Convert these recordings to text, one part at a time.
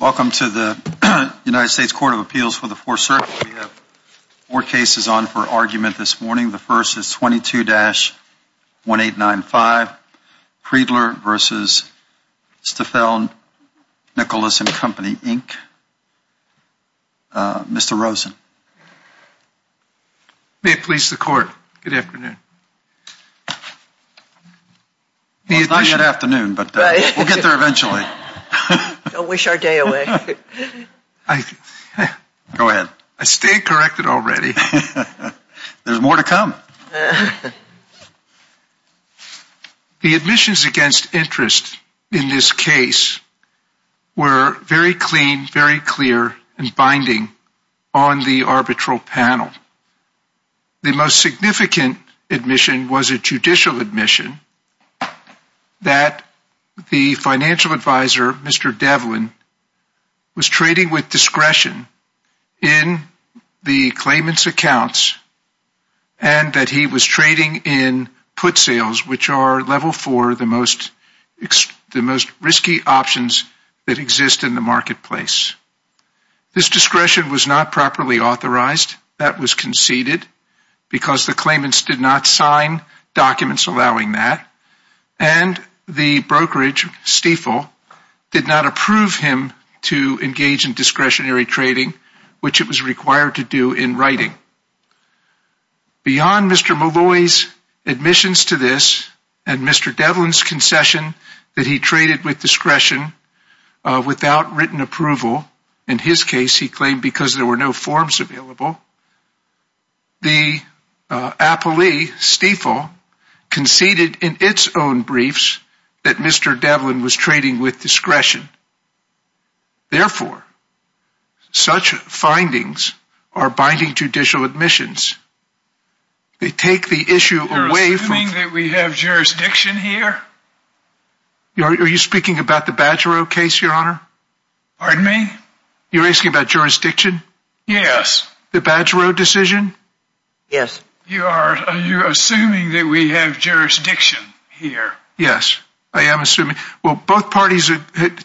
Welcome to the United States Court of Appeals for the Fourth Circuit. We have four cases on for argument this morning. The first is 22-1895, Friedler v. Stifel, Nicolaus, & Company, Inc. Mr. Rosen. May it please the Court. Good afternoon. It's not yet afternoon, but we'll get there eventually. Don't wish our day away. Go ahead. I stayed corrected already. There's more to come. The admissions against interest in this case were very clean, very clear, and binding on the arbitral panel. The most significant admission was a judicial admission that the and that he was trading in put sales, which are level four, the most risky options that exist in the marketplace. This discretion was not properly authorized. That was conceded because the claimants did not sign documents allowing that, and the brokerage, Stifel, did not approve him to engage in discretionary trading, which it was required to do in writing. Beyond Mr. Malloy's admissions to this and Mr. Devlin's concession that he traded with discretion without written approval, in his case he claimed because there were no forms available, the appellee, Stifel, conceded in its own briefs that Mr. Devlin was trading with discretion. Therefore, such findings are binding judicial admissions. They take the issue away from... You're assuming that we have jurisdiction here? Are you speaking about the Badgero case, your honor? Pardon me? You're asking about jurisdiction? Yes. The Badgero decision? Yes. You are. Are you assuming that we have jurisdiction here? Yes, I am assuming. Well, both parties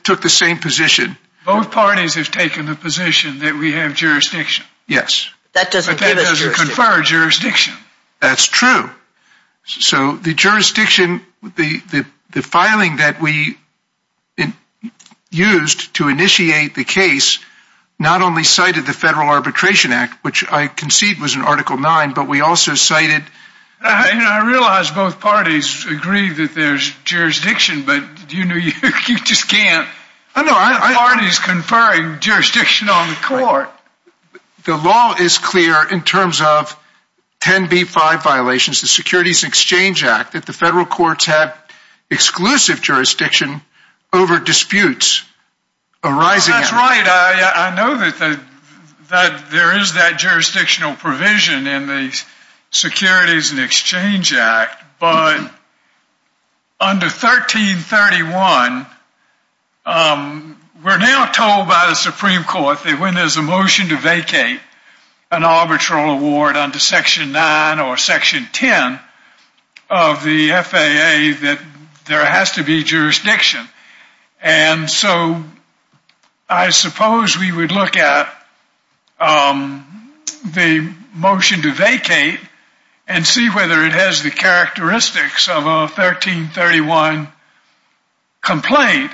took the same position. Both parties have taken the position that we have jurisdiction. Yes. That doesn't give us jurisdiction. That doesn't confer jurisdiction. That's true. So the jurisdiction, the filing that we used to initiate the case, not only cited the Federal Arbitration Act, which I concede was in Article 9, but we also cited... I realize both parties agree that there's jurisdiction, but you just can't... Parties conferring jurisdiction on the court. The law is clear in terms of 10b5 violations, the Securities Exchange Act, that the federal courts have exclusive jurisdiction over disputes arising... That's right. I know that there is that jurisdictional provision in the Securities Exchange Act, but under 1331, we're now told by the Supreme Court that when there's a motion to vacate an arbitral award under Section 9 or Section 10 of the FAA, that there has to be the characteristics of a 1331 complaint.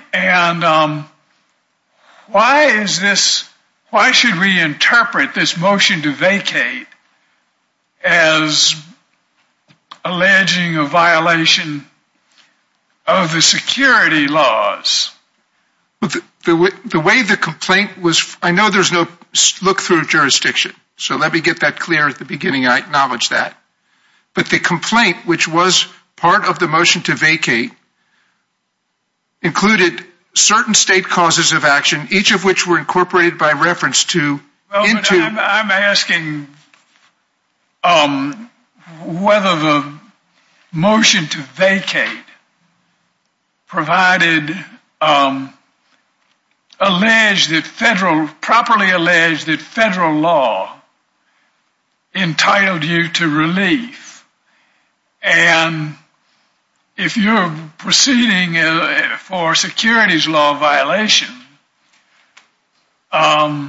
Why should we interpret this motion to vacate as alleging a violation of the security laws? The way the complaint was... I know there's no look through jurisdiction, so let me get that beginning. I acknowledge that. But the complaint, which was part of the motion to vacate, included certain state causes of action, each of which were incorporated by reference to... I'm asking whether the motion to vacate provided alleged that federal... properly alleged that federal law entitled you to relief. And if you're proceeding for securities law violation, I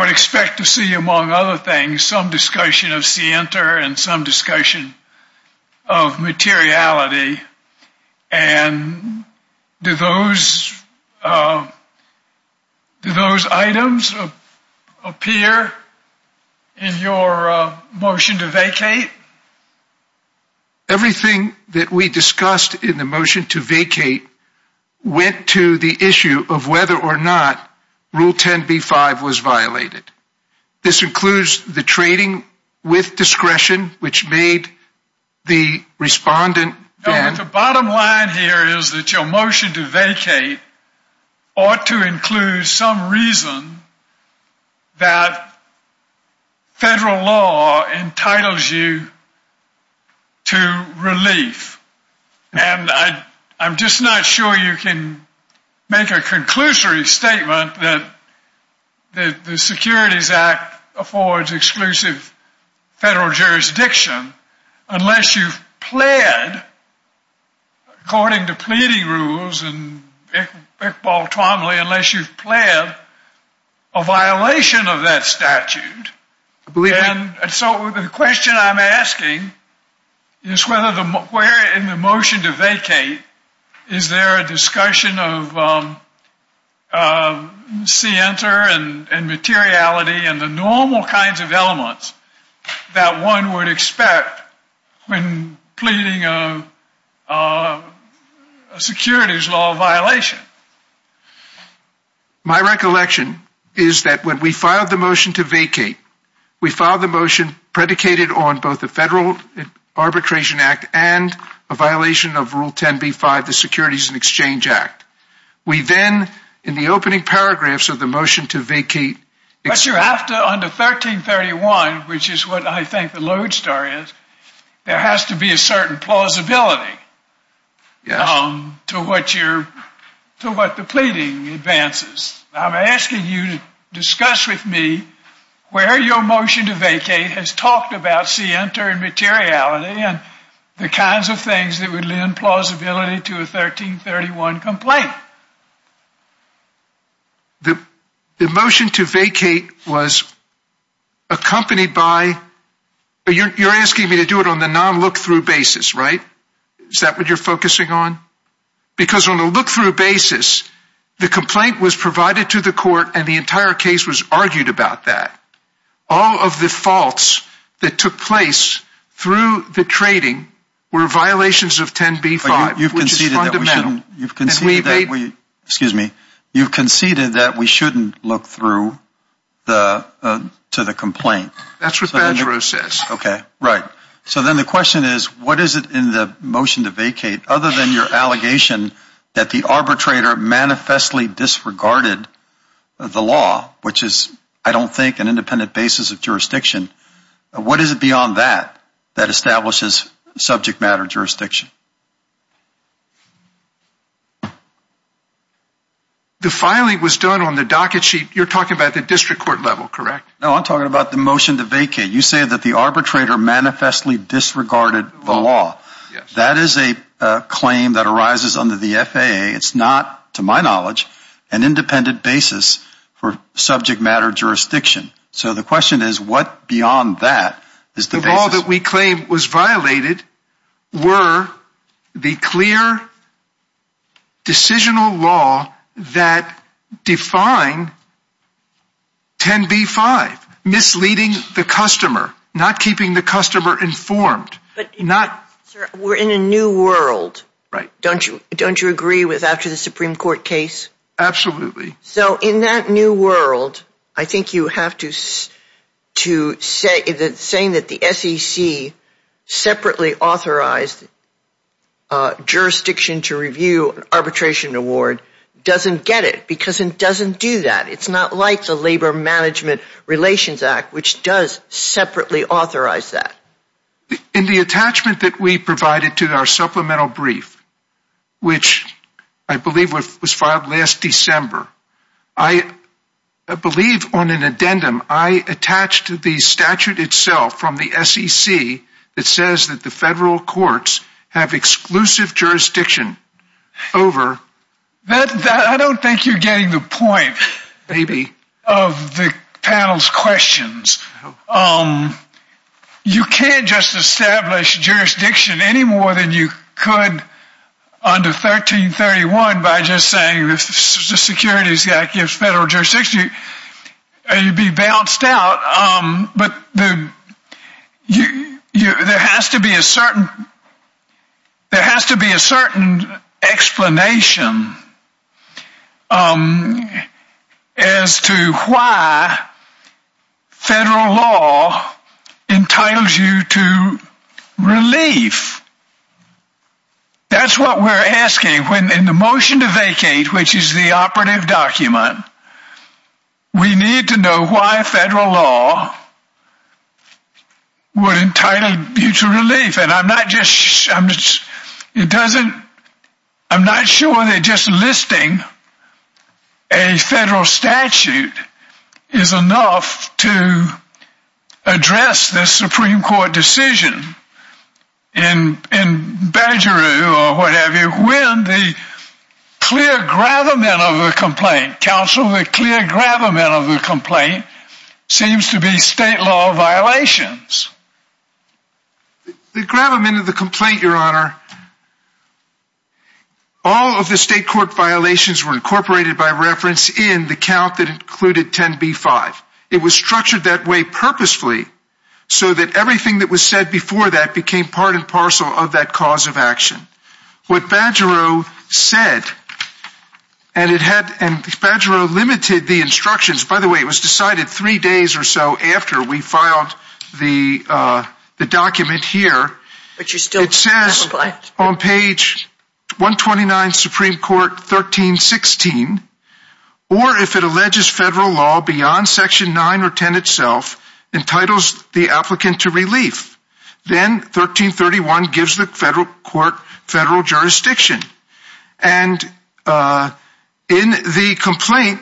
would expect to see, among other things, some discussion of scienter and some discussion of materiality. And do those items appear in your motion to vacate? Everything that we discussed in the motion to vacate went to the issue of whether or not Rule 10b-5 was violated. This includes the trading with discretion, which made the respondent... The bottom line here is that your motion to vacate ought to include some reason that federal law entitles you to relief. And I'm just not sure you can make a conclusory statement that the Securities Act affords exclusive federal jurisdiction unless you've pled, according to pleading rules, unless you've pled a violation of that statute. So the question I'm asking is whether the... where in the motion to vacate is there a discussion of scienter and materiality and the normal kinds of elements that one would expect when pleading a securities law violation? My recollection is that when we filed the motion to vacate, we filed the motion predicated on both the Federal Arbitration Act and a violation of Rule 10b-5, the Securities and Exchange Act. We then, in the opening paragraphs of the motion to vacate... But you're after under 1331, which is what I think the lodestar is, there has to be a certain plausibility to what you're... to what the pleading advances. I'm asking you to discuss with me where your motion to vacate has talked about scienter and materiality. The motion to vacate was accompanied by... you're asking me to do it on the non-look-through basis, right? Is that what you're focusing on? Because on a look-through basis, the complaint was provided to the court and the entire case was argued about that. All of the faults that took place through the trading were violations of 10b-5, which is You've conceded that we shouldn't look through to the complaint. That's what Badgerow says. Okay, right. So then the question is, what is it in the motion to vacate, other than your allegation that the arbitrator manifestly disregarded the law, which is, I don't think, an independent basis of jurisdiction, what is it beyond that that establishes subject matter jurisdiction? The filing was done on the docket sheet. You're talking about the district court level, correct? No, I'm talking about the motion to vacate. You say that the arbitrator manifestly disregarded the law. That is a claim that arises under the FAA. It's not, to my knowledge, an independent basis for subject matter jurisdiction. So the question is, what beyond that? The law that we claim was violated were the clear decisional law that define 10b-5, misleading the customer, not keeping the customer informed. We're in a new world. Don't you agree with after the Supreme Court case? Absolutely. So in that new world, I think you have to say that the SEC separately authorized jurisdiction to review arbitration award doesn't get it because it doesn't do that. It's not like the Labor Management Relations Act, which does separately authorize that. In the attachment that we provided to our supplemental brief, which I believe was filed last December, I believe on an addendum, I attached to the statute itself from the SEC that says that the federal courts have exclusive jurisdiction over. I don't think you're getting the point of the panel's questions. You can't just establish jurisdiction any more than you could under 1331 by just saying the securities guy gives federal jurisdiction. You'd be bounced out. But there has to be a certain explanation as to why federal law entitles you to relief. That's what we're asking when in the motion to vacate, which is the operative document, we need to know why federal law would entitle you to relief. And I'm not sure that you're getting the point. Just listing a federal statute is enough to address the Supreme Court decision in Badgeroo or what have you, when the clear gravamen of the complaint, counsel, the clear gravamen of the complaint seems to be state law violations. The gravamen of the complaint, your honor, all of the state court violations were incorporated by reference in the count that included 10B5. It was structured that way purposefully so that everything that was said before that became part and parcel of that cause of action. What Badgeroo said, and Badgeroo limited the instructions, by the way, it was decided three the document here, it says on page 129, Supreme Court 1316, or if it alleges federal law beyond section 9 or 10 itself, entitles the applicant to relief. Then 1331 gives the federal court federal jurisdiction. And in the complaint,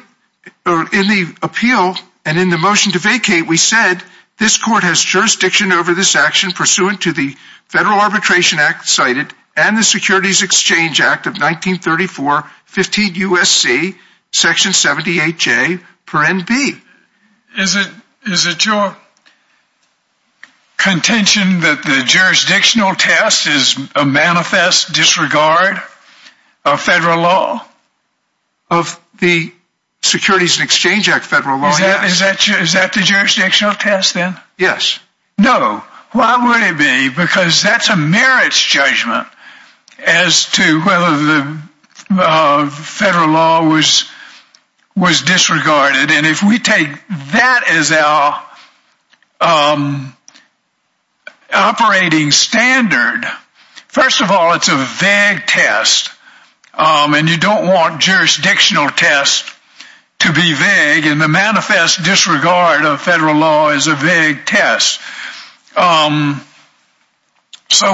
or in the appeal, and in the motion to vacate, we said this court has jurisdiction over this action pursuant to the Federal Arbitration Act cited and the Securities Exchange Act of 1934, 15 U.S.C., section 78J, parent B. Is it your contention that the jurisdictional test is a manifest disregard of federal law? Of the Securities Exchange Act federal law, yes. Is that the jurisdictional test then? Yes. No. Why would it be? Because that's a merits judgment as to whether the federal law was disregarded. And if we take that as our operating standard, first of all, it's a vague test. And you don't want jurisdictional tests to be vague. And the manifest disregard of federal law is a vague test. So,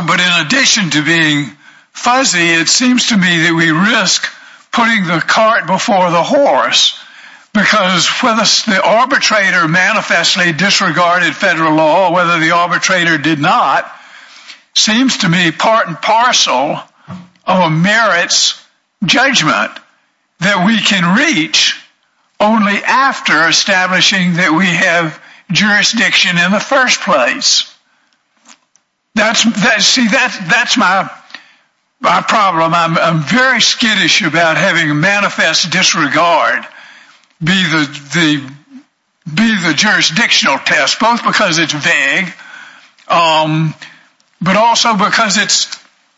but in addition to being fuzzy, it seems to me that we risk putting the cart before the horse because whether the arbitrator manifestly disregarded federal law or whether the only after establishing that we have jurisdiction in the first place. That's, see, that's my problem. I'm very skittish about having a manifest disregard be the jurisdictional test, both because it's vague, but also because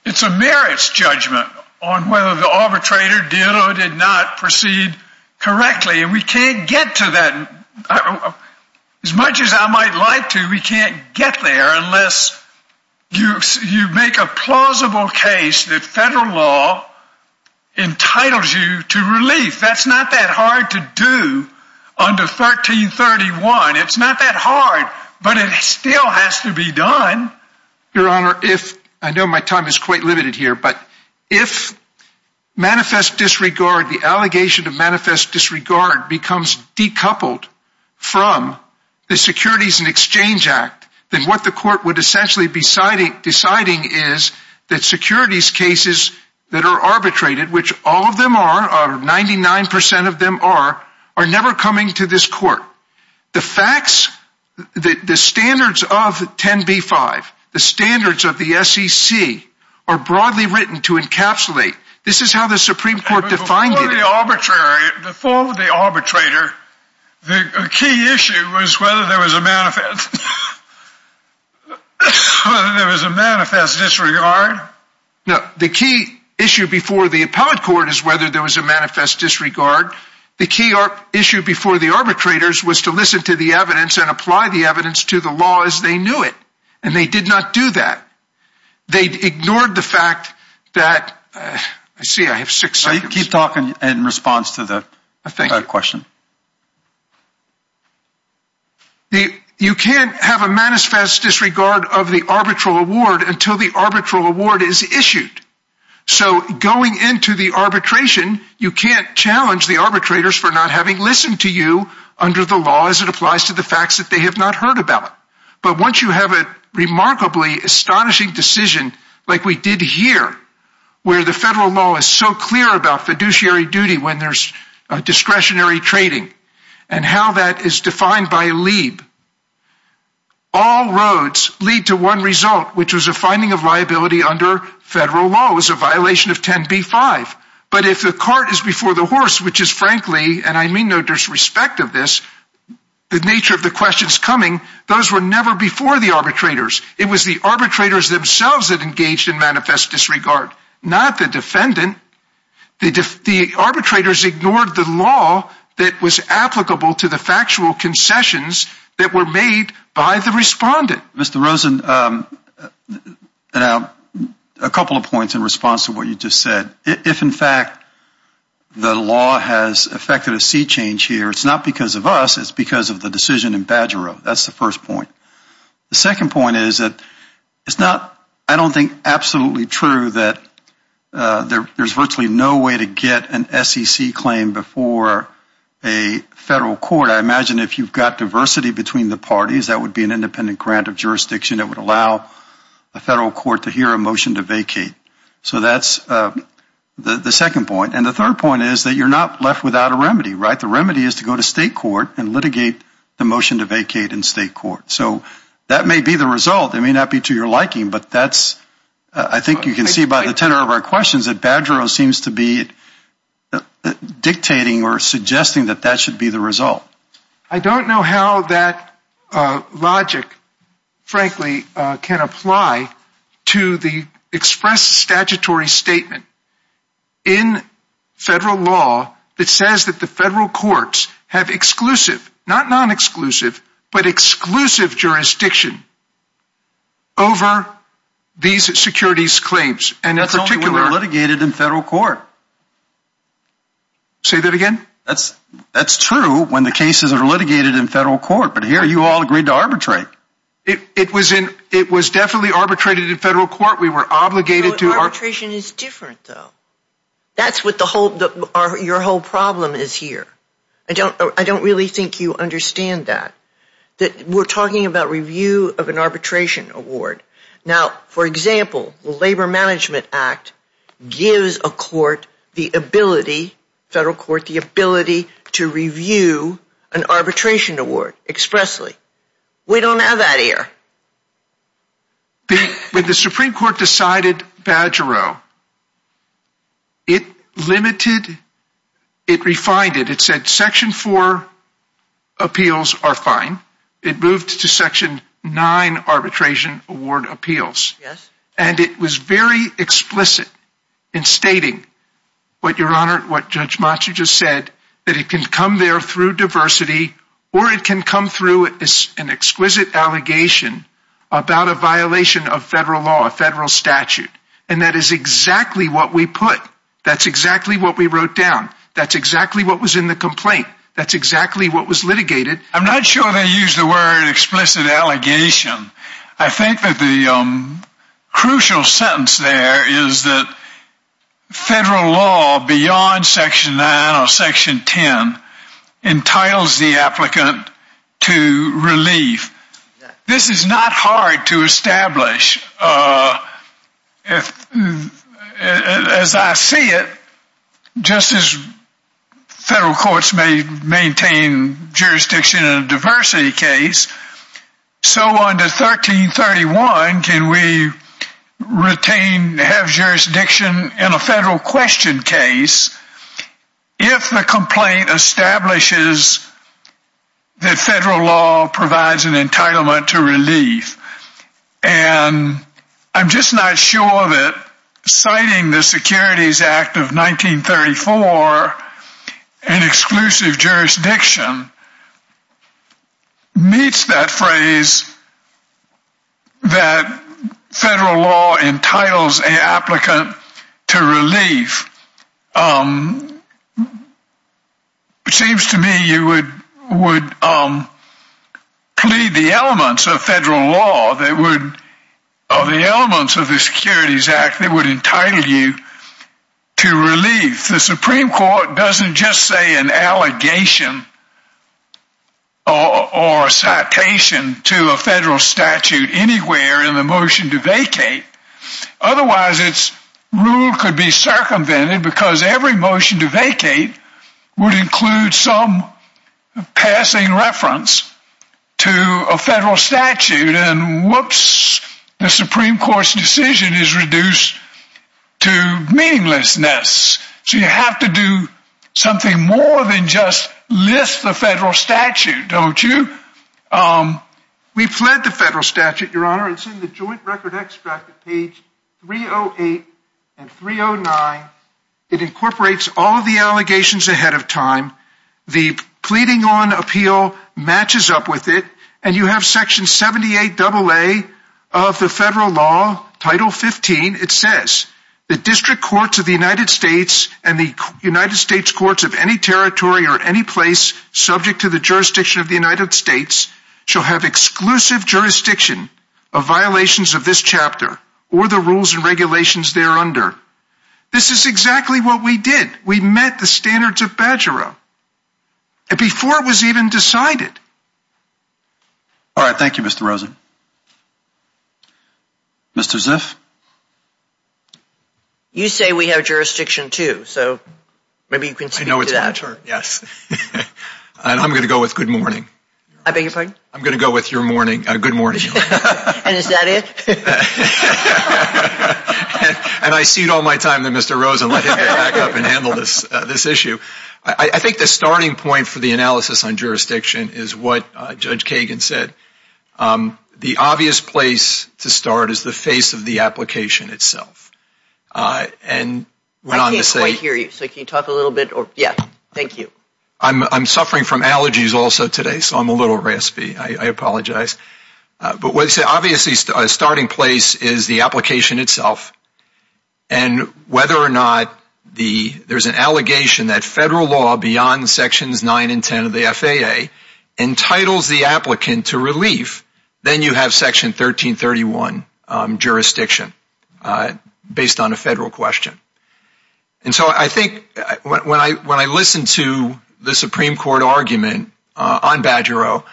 it's a merits judgment on whether the arbitrator did or did not proceed correctly. And we can't get to that. As much as I might like to, we can't get there unless you make a plausible case that federal law entitles you to relief. That's not that hard to do under 1331. It's not that hard, but it still has to be done. Your Honor, if I know my time is quite limited here, but if manifest disregard, the allegation of manifest disregard becomes decoupled from the Securities and Exchange Act, then what the court would essentially be deciding is that securities cases that are arbitrated, which all of them are 99% of them are, never coming to this court. The facts, the standards of 10B5, the standards of the SEC are broadly written to encapsulate. This is how the Supreme Court defined it. Before the arbitrator, the key issue was whether there was a manifest disregard. No, the key issue before the appellate court is whether there was a manifest disregard. The key issue before the arbitrators was to listen to the evidence and apply the evidence to the law as they knew it. And they did not do that. They ignored the fact that, I see I have six seconds. Keep talking in response to the question. You can't have a manifest disregard of the arbitral award until the arbitral award is for not having listened to you under the law as it applies to the facts that they have not heard about it. But once you have a remarkably astonishing decision, like we did here, where the federal law is so clear about fiduciary duty when there's discretionary trading, and how that is defined by Leib, all roads lead to one result, which was a finding of liability under federal law. It was a violation of 10b-5. But if the cart is before the horse, which is frankly, and I mean no disrespect of this, the nature of the questions coming, those were never before the arbitrators. It was the arbitrators themselves that engaged in manifest disregard, not the defendant. The arbitrators ignored the law that was applicable to the factual concessions that were made by the respondent. Mr. Rosen, a couple of points in response to what you just said. If in fact, the law has affected a sea change here, it's not because of us, it's because of the decision in Badgero. That's the first point. The second point is that it's not, I don't think absolutely true that there's virtually no way to get an SEC claim before a federal court. I imagine if you've got diversity between the parties, that would be an independent grant of jurisdiction that would allow the federal court to hear a motion to vacate. So that's the second point. And the third point is that you're not left without a remedy, right? The remedy is to go to state court and litigate the motion to vacate in state court. So that may be the result. It may not be to your liking, but that's, I think you can see by the tenor of our that should be the result. I don't know how that logic, frankly, can apply to the expressed statutory statement in federal law that says that the federal courts have exclusive, not non-exclusive, but exclusive jurisdiction over these securities claims. That's only when they're litigated in That's true when the cases are litigated in federal court, but here you all agreed to arbitrate. It was in, it was definitely arbitrated in federal court. We were obligated to arbitration is different though. That's what the whole, your whole problem is here. I don't, I don't really think you understand that. That we're talking about review of an arbitration award. Now, for example, the Labor Management Act gives a court the ability, federal court, the ability to review an arbitration award expressly. We don't have that here. When the Supreme Court decided Badgero, it limited, it refined it. It said section four appeals are fine. It moved to section nine arbitration award appeals. Yes. And it was very explicit in stating what your honor, what judge Machu just said, that it can come there through diversity or it can come through an exquisite allegation about a violation of federal law, a federal statute. And that is exactly what we put. That's exactly what we wrote down. That's exactly what was litigated. I'm not sure they used the word explicit allegation. I think that the crucial sentence there is that federal law beyond section nine or section 10 entitles the applicant to relief. This is not hard to establish. As I see it, just as federal courts may retain jurisdiction in a diversity case, so under 1331 can we retain, have jurisdiction in a federal question case if the complaint establishes that federal law provides an entitlement to relief. And I'm just not sure that citing the Securities Act of 1934, an exclusive jurisdiction meets that phrase that federal law entitles an applicant to relief. It seems to me you would plead the elements of federal law that would, of the elements of the Securities Act, that would entitle you to relief. The Supreme Court doesn't just say an allegation or a citation to a federal statute anywhere in the motion to vacate. Otherwise, its rule could be circumvented because every motion to vacate would include some passing reference to a federal statute. And whoops, the Supreme Court's decision is reduced to meaninglessness. So you have to do something more than just list the federal statute, your honor, and send the joint record extract at page 308 and 309. It incorporates all of the allegations ahead of time. The pleading on appeal matches up with it. And you have section 78 AA of the federal law, title 15. It says the district courts of the United States and the United States courts of any territory or any place subject to the jurisdiction of the United States shall have exclusive jurisdiction of violations of this chapter or the rules and regulations thereunder. This is exactly what we did. We met the standards of Badgera before it was even decided. All right, thank you, Mr. Rosen. Mr. Ziff? You say we have jurisdiction too, so maybe you can speak to that. Yes, and I'm going to go with good morning. I beg your pardon? I'm going to go with your morning, good morning. And is that it? And I cede all my time to Mr. Rosen, let him back up and handle this issue. I think the starting point for the analysis on jurisdiction is what Judge Kagan said. The obvious place to start is the face of the application itself. And went on to say I can't quite hear you, so can you talk a little bit? Yeah, thank you. I'm suffering from allergies also today, so I'm a little raspy. I apologize. But what he said, obviously a starting place is the application itself. And whether or not there's an allegation that federal law beyond Sections 9 and 10 of the FAA entitles the applicant to relief, then you have Section 1331 jurisdiction based on a federal question. And so I think when I listened to the Supreme Court argument on Badger O,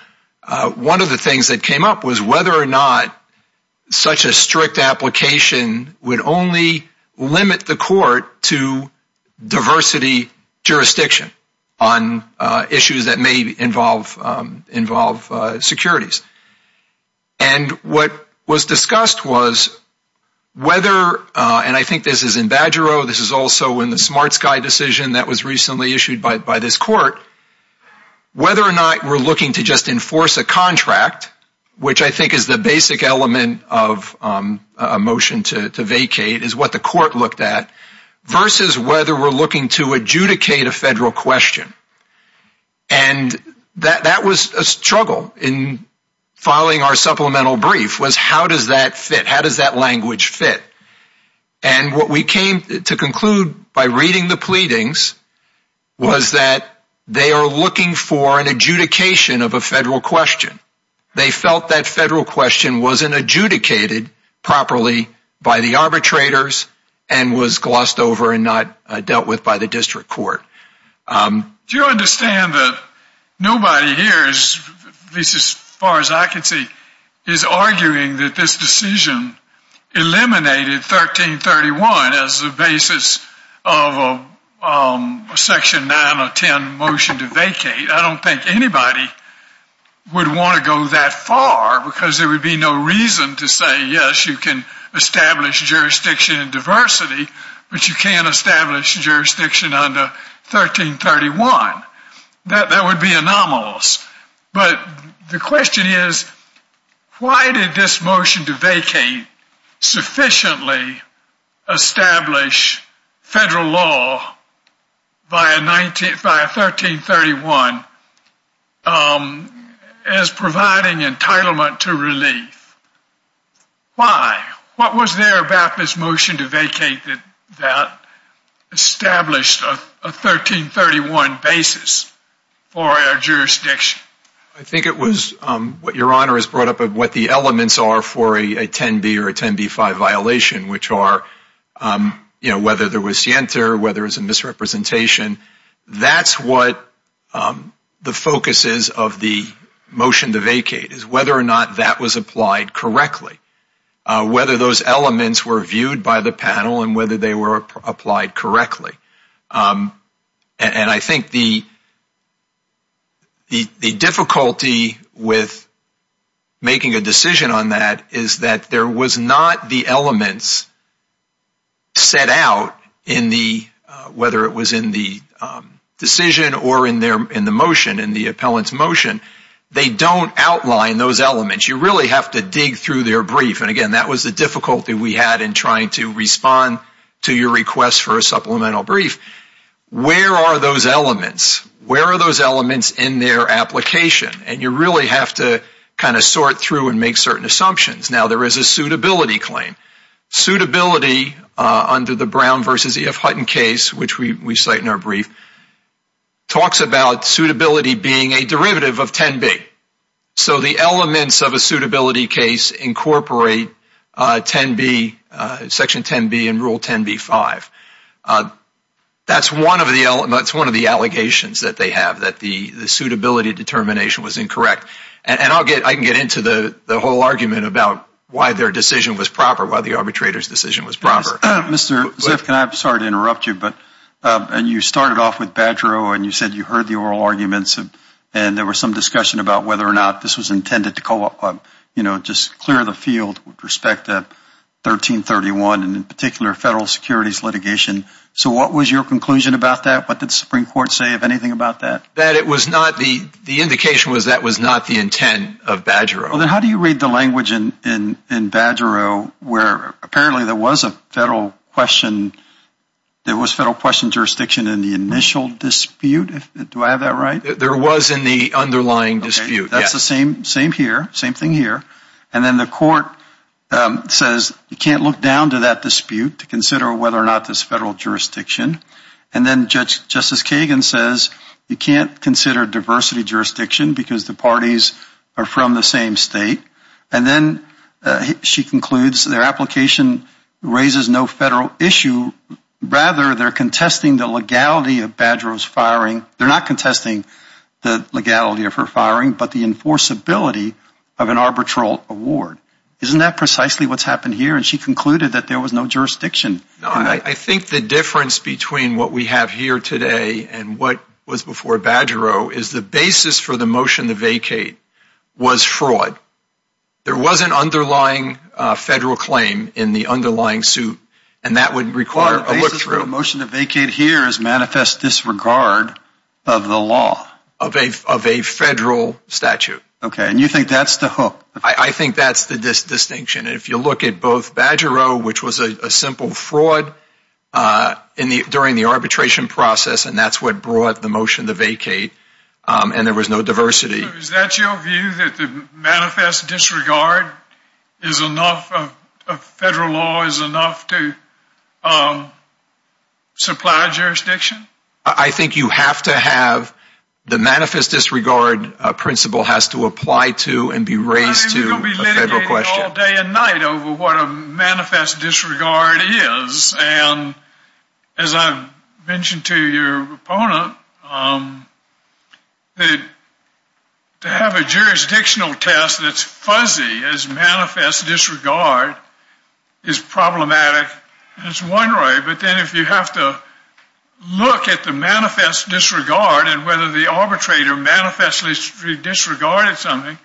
one of the things that came up was whether or not such a strict application would only limit the court to diversity jurisdiction on issues that may involve securities. And what was discussed was whether, and I think this is in Badger O, this is also in the Smart Sky decision that was recently issued by this court, whether or not we're looking to just enforce a contract, which I think is the basic element of a motion to vacate, is what the court looked at, versus whether we're looking to adjudicate a federal question. And that was a struggle in filing our supplemental brief, was how does that fit? How does that language fit? And what we came to conclude by reading the pleadings was that they are looking for an adjudication of a federal question. They felt that federal question wasn't adjudicated properly by the arbitrators and was glossed over and not dealt with by the district court. Do you understand that nobody here, at least as I can see, is arguing that this decision eliminated 1331 as the basis of a section 9 or 10 motion to vacate. I don't think anybody would want to go that far because there would be no reason to say, yes, you can establish jurisdiction in diversity, but you can't establish jurisdiction under 1331. That would be anomalous. But the question is, why did this motion to vacate sufficiently establish federal law via 1331 as providing entitlement to relief? Why? What was there about this motion to vacate that established a 1331 basis for our jurisdiction? I think it was what your honor has brought up of what the elements are for a 10b or a 10b-5 violation, which are, you know, whether there was scienter, whether it's a misrepresentation. That's what the focus is of the motion to vacate is whether or not that was applied correctly. Whether those elements were viewed by the panel and whether they were applied correctly. And I think the difficulty with making a decision on that is that there was not the elements set out in the, whether it was in the decision or in the motion, in the appellant's motion. They don't outline those elements. You really have to dig through their brief. And again, that was the difficulty we had in trying to respond to your request for a supplemental brief. Where are those elements? Where are those elements in their application? And you really have to kind of sort through and make certain assumptions. Now, there is a suitability claim. Suitability under the Brown v. E.F. Hutton case, which we cite in our brief, talks about suitability being a derivative of 10b. So the elements of a suitability case incorporate 10b, Section 10b and Rule 10b-5. That's one of the, that's one of the allegations that they have that the suitability determination was incorrect. And I'll get, I can get into the arbitrator's decision was proper. Mr. Ziff, can I, I'm sorry to interrupt you, but, and you started off with Badgerow and you said you heard the oral arguments and there was some discussion about whether or not this was intended to, you know, just clear the field with respect to 1331 and in particular federal securities litigation. So what was your conclusion about that? What did the Supreme Court say of anything about that? That it was not the, the indication was that was not the intent of Badgerow. Well, then how do you read the language in, in, in Badgerow where apparently there was a federal question, there was federal question jurisdiction in the initial dispute? Do I have that right? There was in the underlying dispute. That's the same, same here, same thing here. And then the court says you can't look down to that dispute to consider whether or not this federal jurisdiction. And then Judge, Justice Kagan says you can't consider diversity jurisdiction because the parties are from the same state. And then she concludes their application raises no federal issue. Rather, they're contesting the legality of Badgerow's firing. They're not contesting the legality of her firing, but the enforceability of an arbitral award. Isn't that precisely what's happened here? And she concluded that there was jurisdiction. No, I think the difference between what we have here today and what was before Badgerow is the basis for the motion to vacate was fraud. There was an underlying federal claim in the underlying suit and that would require a look through. The basis for the motion to vacate here is manifest disregard of the law. Of a, of a federal statute. Okay. And you think that's the I think that's the distinction. If you look at both Badgerow, which was a simple fraud in the, during the arbitration process, and that's what brought the motion to vacate. And there was no diversity. Is that your view that the manifest disregard is enough of federal law is enough to supply jurisdiction? I think you have to have the manifest disregard principle has to apply to and be raised to a federal question. You're going to be litigated all day and night over what a manifest disregard is. And as I've mentioned to your opponent, to have a jurisdictional test that's fuzzy as manifest disregard is problematic. It's one way, but then if you have to look at the manifest disregard and whether the arbitrator manifestly disregarded something,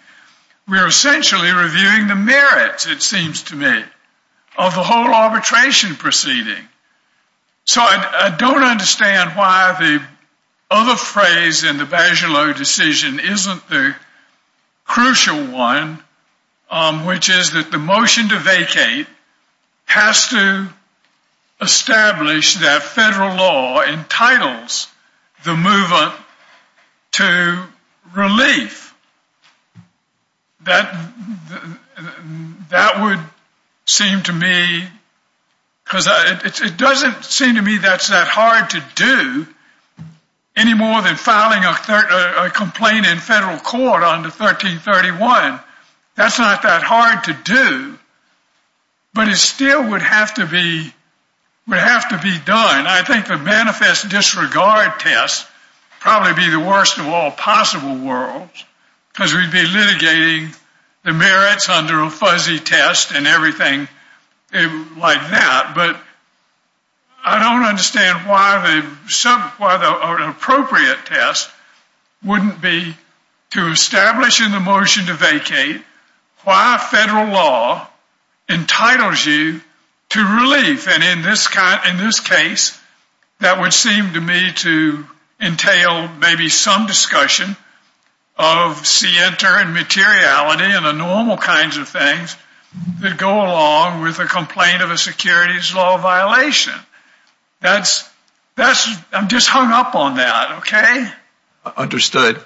we're essentially reviewing the merits, it seems to me, of the whole arbitration proceeding. So I don't understand why the other phrase in the Badgerow decision isn't the crucial one, which is that the motion to vacate has to establish that federal law entitles the mover to relief. That would seem to me, because it doesn't seem to me that's that hard to do any more than filing a complaint in federal court under 1331. That's not that hard to do, but it still would have to be done. I think the manifest disregard test would probably be the worst of all possible worlds because we'd be litigating the merits under a fuzzy test and everything like that. But I don't understand why the appropriate test wouldn't be to establish in the motion to vacate why federal law entitles you to relief. And in this case, that would seem to me to entail maybe some discussion of scienter and materiality and the normal kinds of things that go along with a complaint of a securities law violation. I'm just hung up on that, okay? Understood.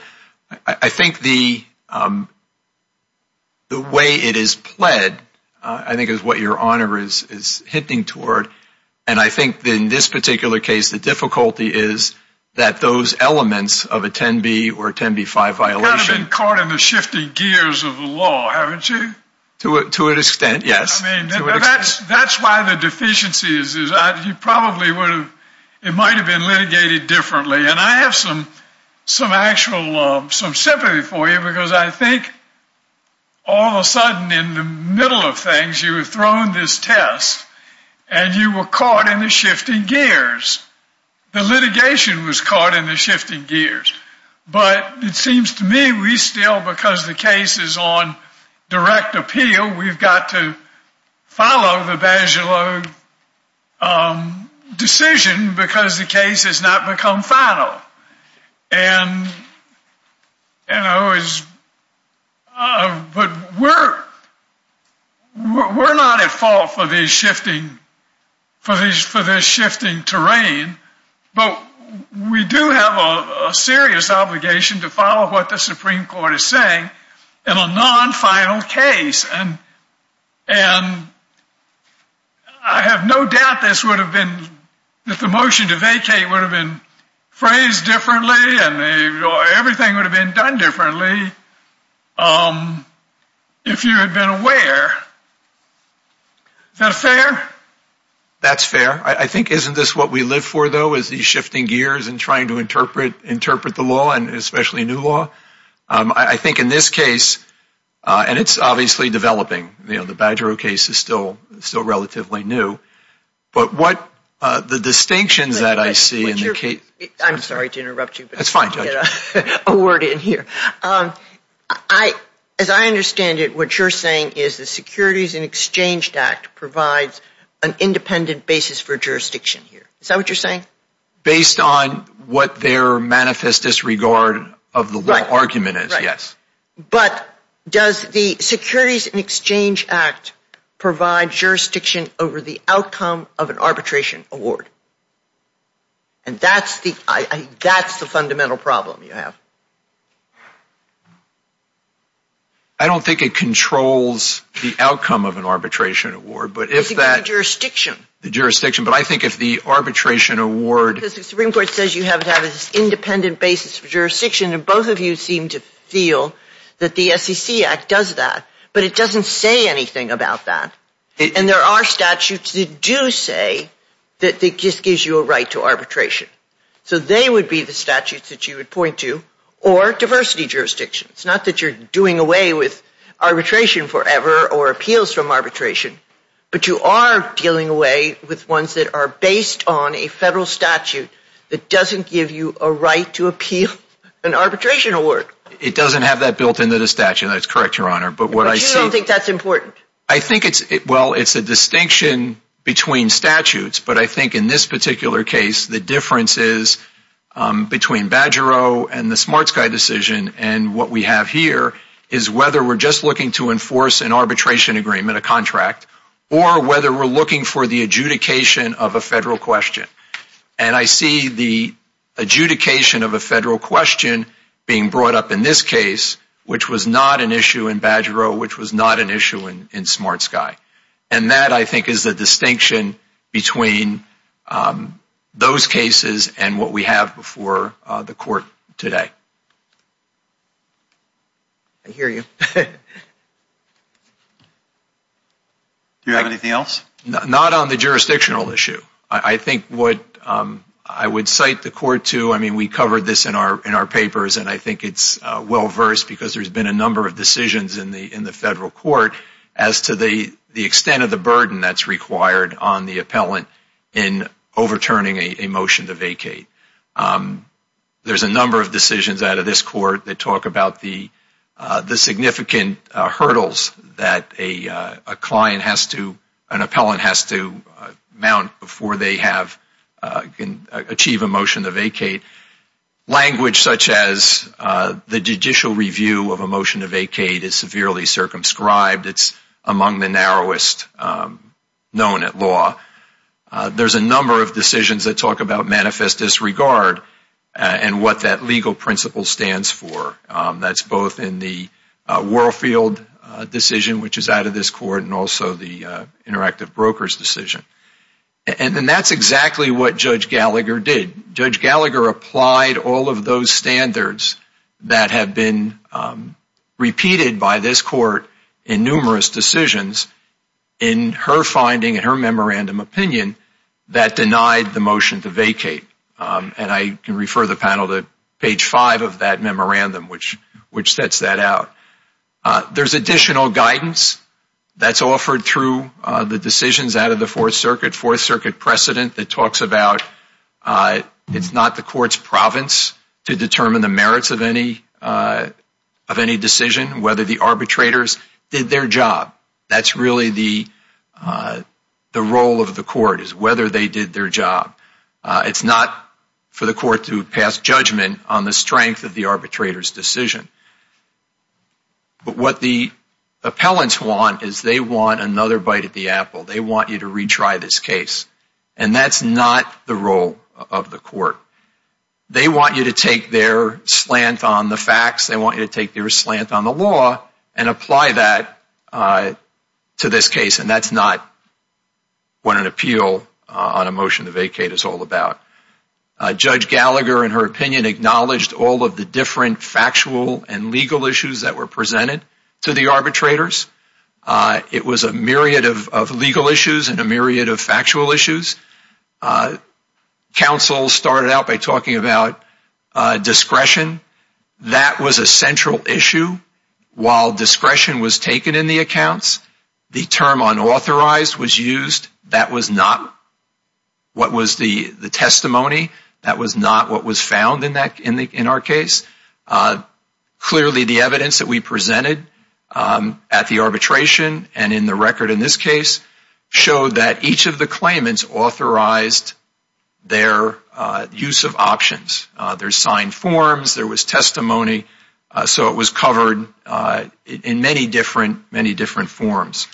I think the way it is pled, I think is what your honor is hinting toward. And I think in this particular case, the difficulty is that those elements of a 10B or 10B-5 violation... You've kind of been caught in the shifting gears of the law, haven't you? To an extent, yes. I mean, that's why the deficiency is, you probably would have, it might have been litigated differently. And I have some sympathy for you because I think all of a sudden in the middle of things, you were thrown this test and you were caught in the shifting gears. The litigation was caught in the shifting gears. But it seems to me we still, because the case is on final. But we're not at fault for this shifting terrain. But we do have a serious obligation to follow what the Supreme Court is saying in a non-final case. And I have no doubt this would have been phrased differently and everything would have been done differently if you had been aware. Is that fair? That's fair. I think, isn't this what we live for, though, is these shifting gears and trying to interpret the law and especially new law? I think in this case, and it's obviously developing, the Badger case is still relatively new. But what the distinctions that I see in the case... I'm sorry to interrupt you. That's fine, Judge. A word in here. As I understand it, what you're saying is the Securities and Exchange Act provides an independent basis for jurisdiction here. Is that what you're saying? Based on what their manifest disregard of the law argument is, yes. But does the Securities and Exchange Act provide jurisdiction over the outcome of an arbitration award? And that's the fundamental problem you have. I don't think it controls the outcome of an arbitration award, but if that... The jurisdiction. The jurisdiction. But I think if the arbitration award... Because the Supreme Court says you have to have an independent basis for jurisdiction, and both of you seem to feel that the SEC Act does that, but it doesn't say anything about that. And there are statutes that do say that it just gives you a right to arbitration. So they would be the statutes that you would point to, or diversity jurisdictions. Not that you're doing away with arbitration forever or appeals from arbitration, but you are dealing away with ones that are based on a federal statute that doesn't give you a right to appeal an arbitration award. It doesn't have that built into the statute. That's correct, Your Honor. But you don't think that's important? I think it's... Well, it's a distinction between statutes, but I think in this particular case, the difference is between Badgero and the SmartSky decision, and what we have here is whether we're just looking to enforce an arbitration agreement, a contract, or whether we're looking for the adjudication of a federal question. And I see the adjudication of a federal question being brought up in this case, which was not an issue in Badgero, which was not an issue in SmartSky. And that, I think, is the distinction between those cases and what we have before the Court today. I hear you. Do you have anything else? Not on the jurisdictional issue. I think what I would cite the Court to, I mean, we covered this in our papers, and I think it's well-versed because there's been a number of decisions in the federal court as to the extent of the burden that's required on the appellant in overturning a motion to vacate. There's a number of decisions out of this Court that talk about the significant hurdles that a client has to, an appellant has to mount before they can achieve a motion to vacate. Language such as the judicial review of a motion to vacate is severely circumscribed. It's among the narrowest known at law. There's a number of decisions that talk about manifest disregard and what that legal principle stands for. That's both in the Warfield decision, which is out of this Court, and also the Interactive Brokers decision. And that's exactly what Judge Gallagher did. Judge Gallagher applied all of those standards that have been repeated by this Court in numerous decisions in her finding, in her memorandum opinion, that denied the motion to vacate. And I can refer the panel to page five of that memorandum, which sets that out. There's additional guidance that's offered through the decisions out of the Fourth Circuit, Fourth Circuit precedent that talks about it's not the Court's province to determine the merits of any decision, whether the arbitrators did their job. That's really the role of the Court, is whether they did their job. It's not for the Court to pass judgment on the strength of the arbitrator's decision. But what the appellants want is they want another bite at the apple. They want you to retry this case. And that's not the role of the Court. They want you to take their slant on the facts. They want you to take their slant on the law and apply that to this case. That's not what an appeal on a motion to vacate is all about. Judge Gallagher, in her opinion, acknowledged all of the different factual and legal issues that were presented to the arbitrators. It was a myriad of legal issues and a myriad of factual issues. Counsel started out by talking about discretion. That was a central issue. While discretion was taken in the accounts, the term unauthorized was used. That was not what was the testimony. That was not what was found in our case. Clearly, the evidence that we presented at the arbitration and in the record in this case showed that each of the claimants authorized their use of options. There's signed forms. There was testimony. So it was covered in many different forms.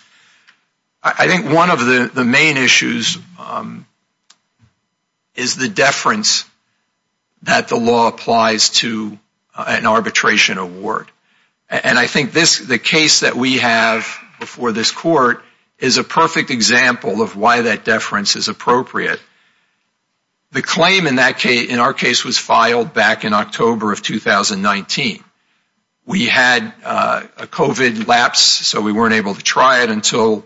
I think one of the main issues is the deference that the law applies to an arbitration award. And I think the case that we have before this Court is a perfect example of why that deference is appropriate. The claim in our case was filed back in October of 2019. We had a COVID lapse, so we weren't able to try it until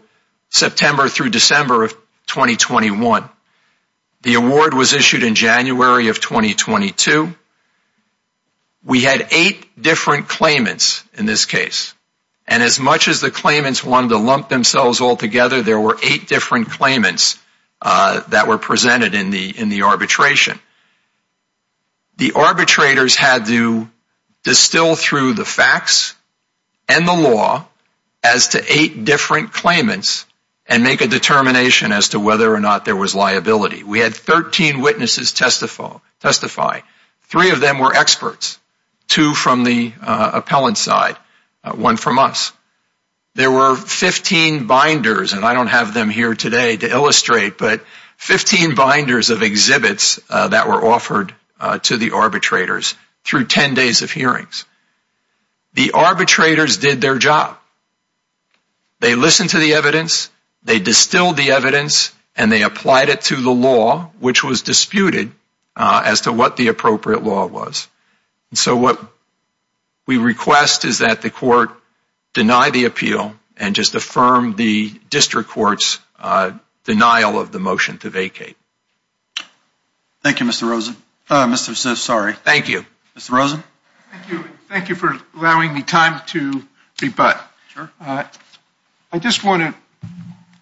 September through December of 2021. The award was issued in January of 2022. We had eight different claimants in this case. And as much as the claimants wanted to lump themselves all together, there were eight different claimants that were presented in the arbitration. The arbitrators had to distill through the facts and the law as to eight different claimants and make a determination as to whether or not there was liability. We had 13 witnesses testify. Three of them were experts, two from the appellant side, one from us. There were 15 binders, and I don't have them here today to illustrate, but 15 binders of exhibits that were offered to the arbitrators through 10 days of hearings. The arbitrators did their job. They listened to the evidence, they distilled the evidence, and they applied it to the law, which was disputed as to what the appropriate law was. So what we request is that the court deny the appeal and just affirm the district court's denial of the motion to vacate. Thank you, Mr. Rosen. Uh, Mr. Ziff, sorry. Thank you. Mr. Rosen? Thank you for allowing me time to rebut. I just want to,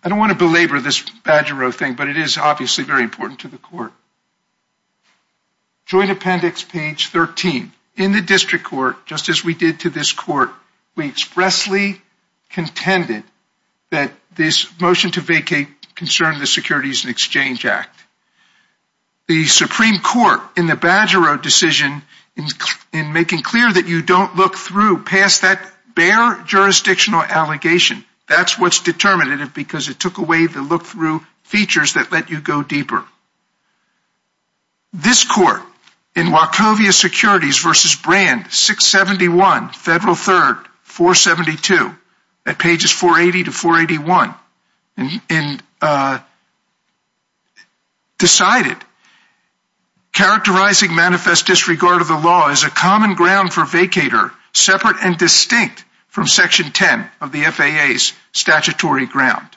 I don't want to belabor this badger row thing, but it is obviously very important to the court. Joint appendix, page 13. In the district court, just as we did to this court, we expressly contended that this motion to vacate concerned the Securities and Exchange Act. The Supreme Court, in the badger row decision, in making clear that you don't look through past that bare jurisdictional allegation, that's what's determinative because it took away the look-through features that let you go deeper. This court, in Wachovia Securities v. Brand, 671 Federal 3rd, 472, at pages 480 to 481, decided, characterizing manifest disregard of the law as a common ground for vacator, separate and distinct from section 10 of the FAA's statutory ground.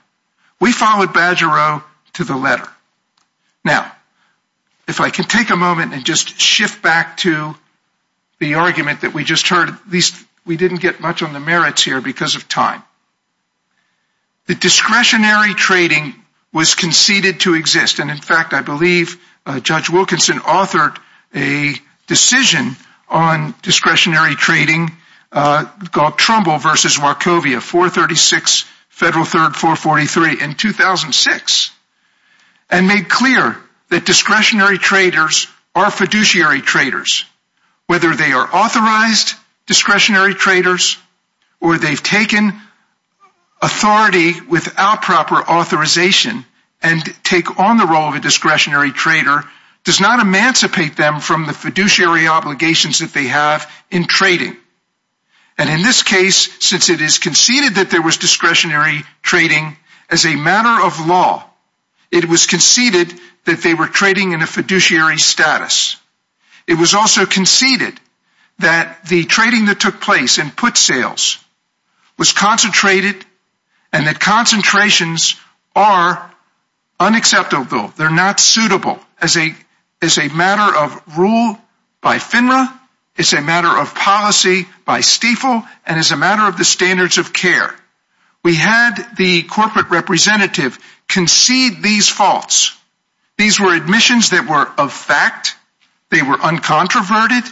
We followed badger row to the letter. Now, if I can take a moment and just shift back to the argument that we just heard, at least we didn't get much on the merits here because of time. The discretionary trading was conceded to exist. And in fact, I believe Judge Wilkinson authored a decision on discretionary trading called Trumbull v. Wachovia, 436 Federal 3rd, 443. In 2006, and made clear that discretionary traders are fiduciary traders, whether they are authorized discretionary traders, or they've taken authority without proper authorization and take on the role of a discretionary trader, does not emancipate them from the fiduciary obligations that they have in trading. And in this case, since it is conceded that there was discretionary trading as a matter of law, it was conceded that they were trading in a fiduciary status. It was also conceded that the trading that took place and put sales was concentrated and that concentrations are unacceptable. They're not suitable as a matter of rule by FINRA. It's a matter of policy by STFL and as a matter of the standards of care. We had the corporate representative concede these faults. These were admissions that were a fact. They were uncontroverted.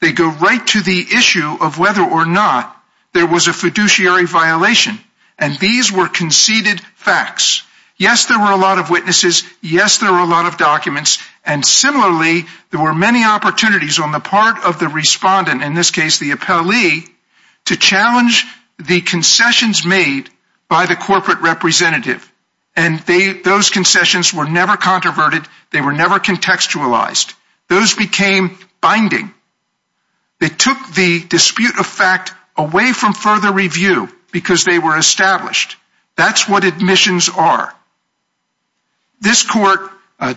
They go right to the issue of whether or not there was a fiduciary violation. And these were conceded facts. Yes, there were a lot of witnesses. Yes, there were a lot of documents. And similarly, there were many opportunities on the part of the respondent, in this case, the appellee, to challenge the concessions made by the corporate representative. And those concessions were never controverted. They were never contextualized. Those became binding. They took the dispute of fact away from further review because they were established. That's what admissions are. This court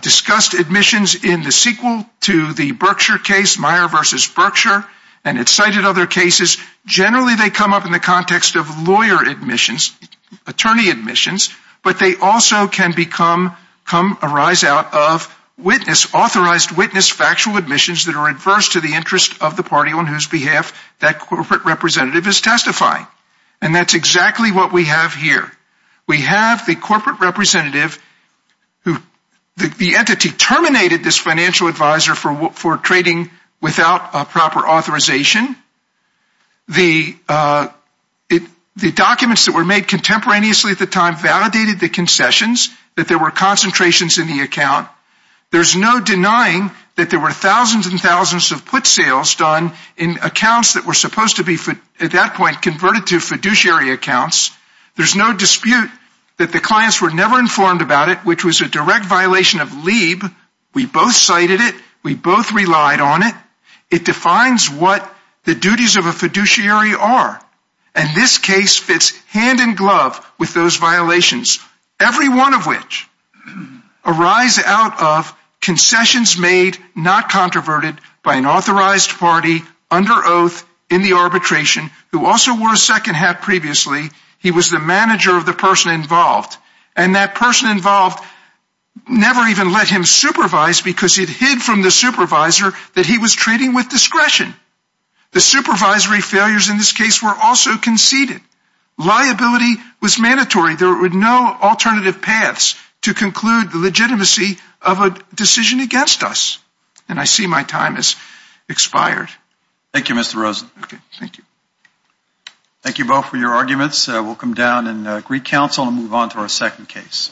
discussed admissions in the sequel to the Berkshire case, Meyer v. Berkshire, and it cited other cases. Generally, they come up in the context of lawyer admissions, attorney admissions, but they also can become, come, arise out of witness, authorized witness, factual admissions that are adverse to the interest of the party on whose behalf that corporate representative is testifying. And that's exactly what we have here. We have the corporate representative who, the entity terminated this financial advisor for trading without a proper authorization. The documents that were made contemporaneously at the time validated the concessions, that there were concentrations in the account. There's no denying that there were thousands and thousands of put sales done in accounts that were supposed to be, at that point, converted to fiduciary accounts. There's no dispute that the clients were never informed about it, which was a direct violation of LIEB. We both cited it. We both relied on it. It defines what the duties of a fiduciary are. And this case fits hand in glove with those violations, every one of which arise out of concessions made, not controverted, by an authorized party under oath in the arbitration, who also wore a second hat previously. He was the manager of the person involved. And that person involved never even let him supervise, because it hid from the supervisor that he was trading with discretion. The supervisory failures in this case were also conceded. Liability was mandatory. There were no alternative paths to conclude the legitimacy of a decision against us. And I see my time has expired. Thank you, Mr. Rosen. Okay, thank you. Thank you both for your arguments. We'll come down and greet counsel and move on to our second case.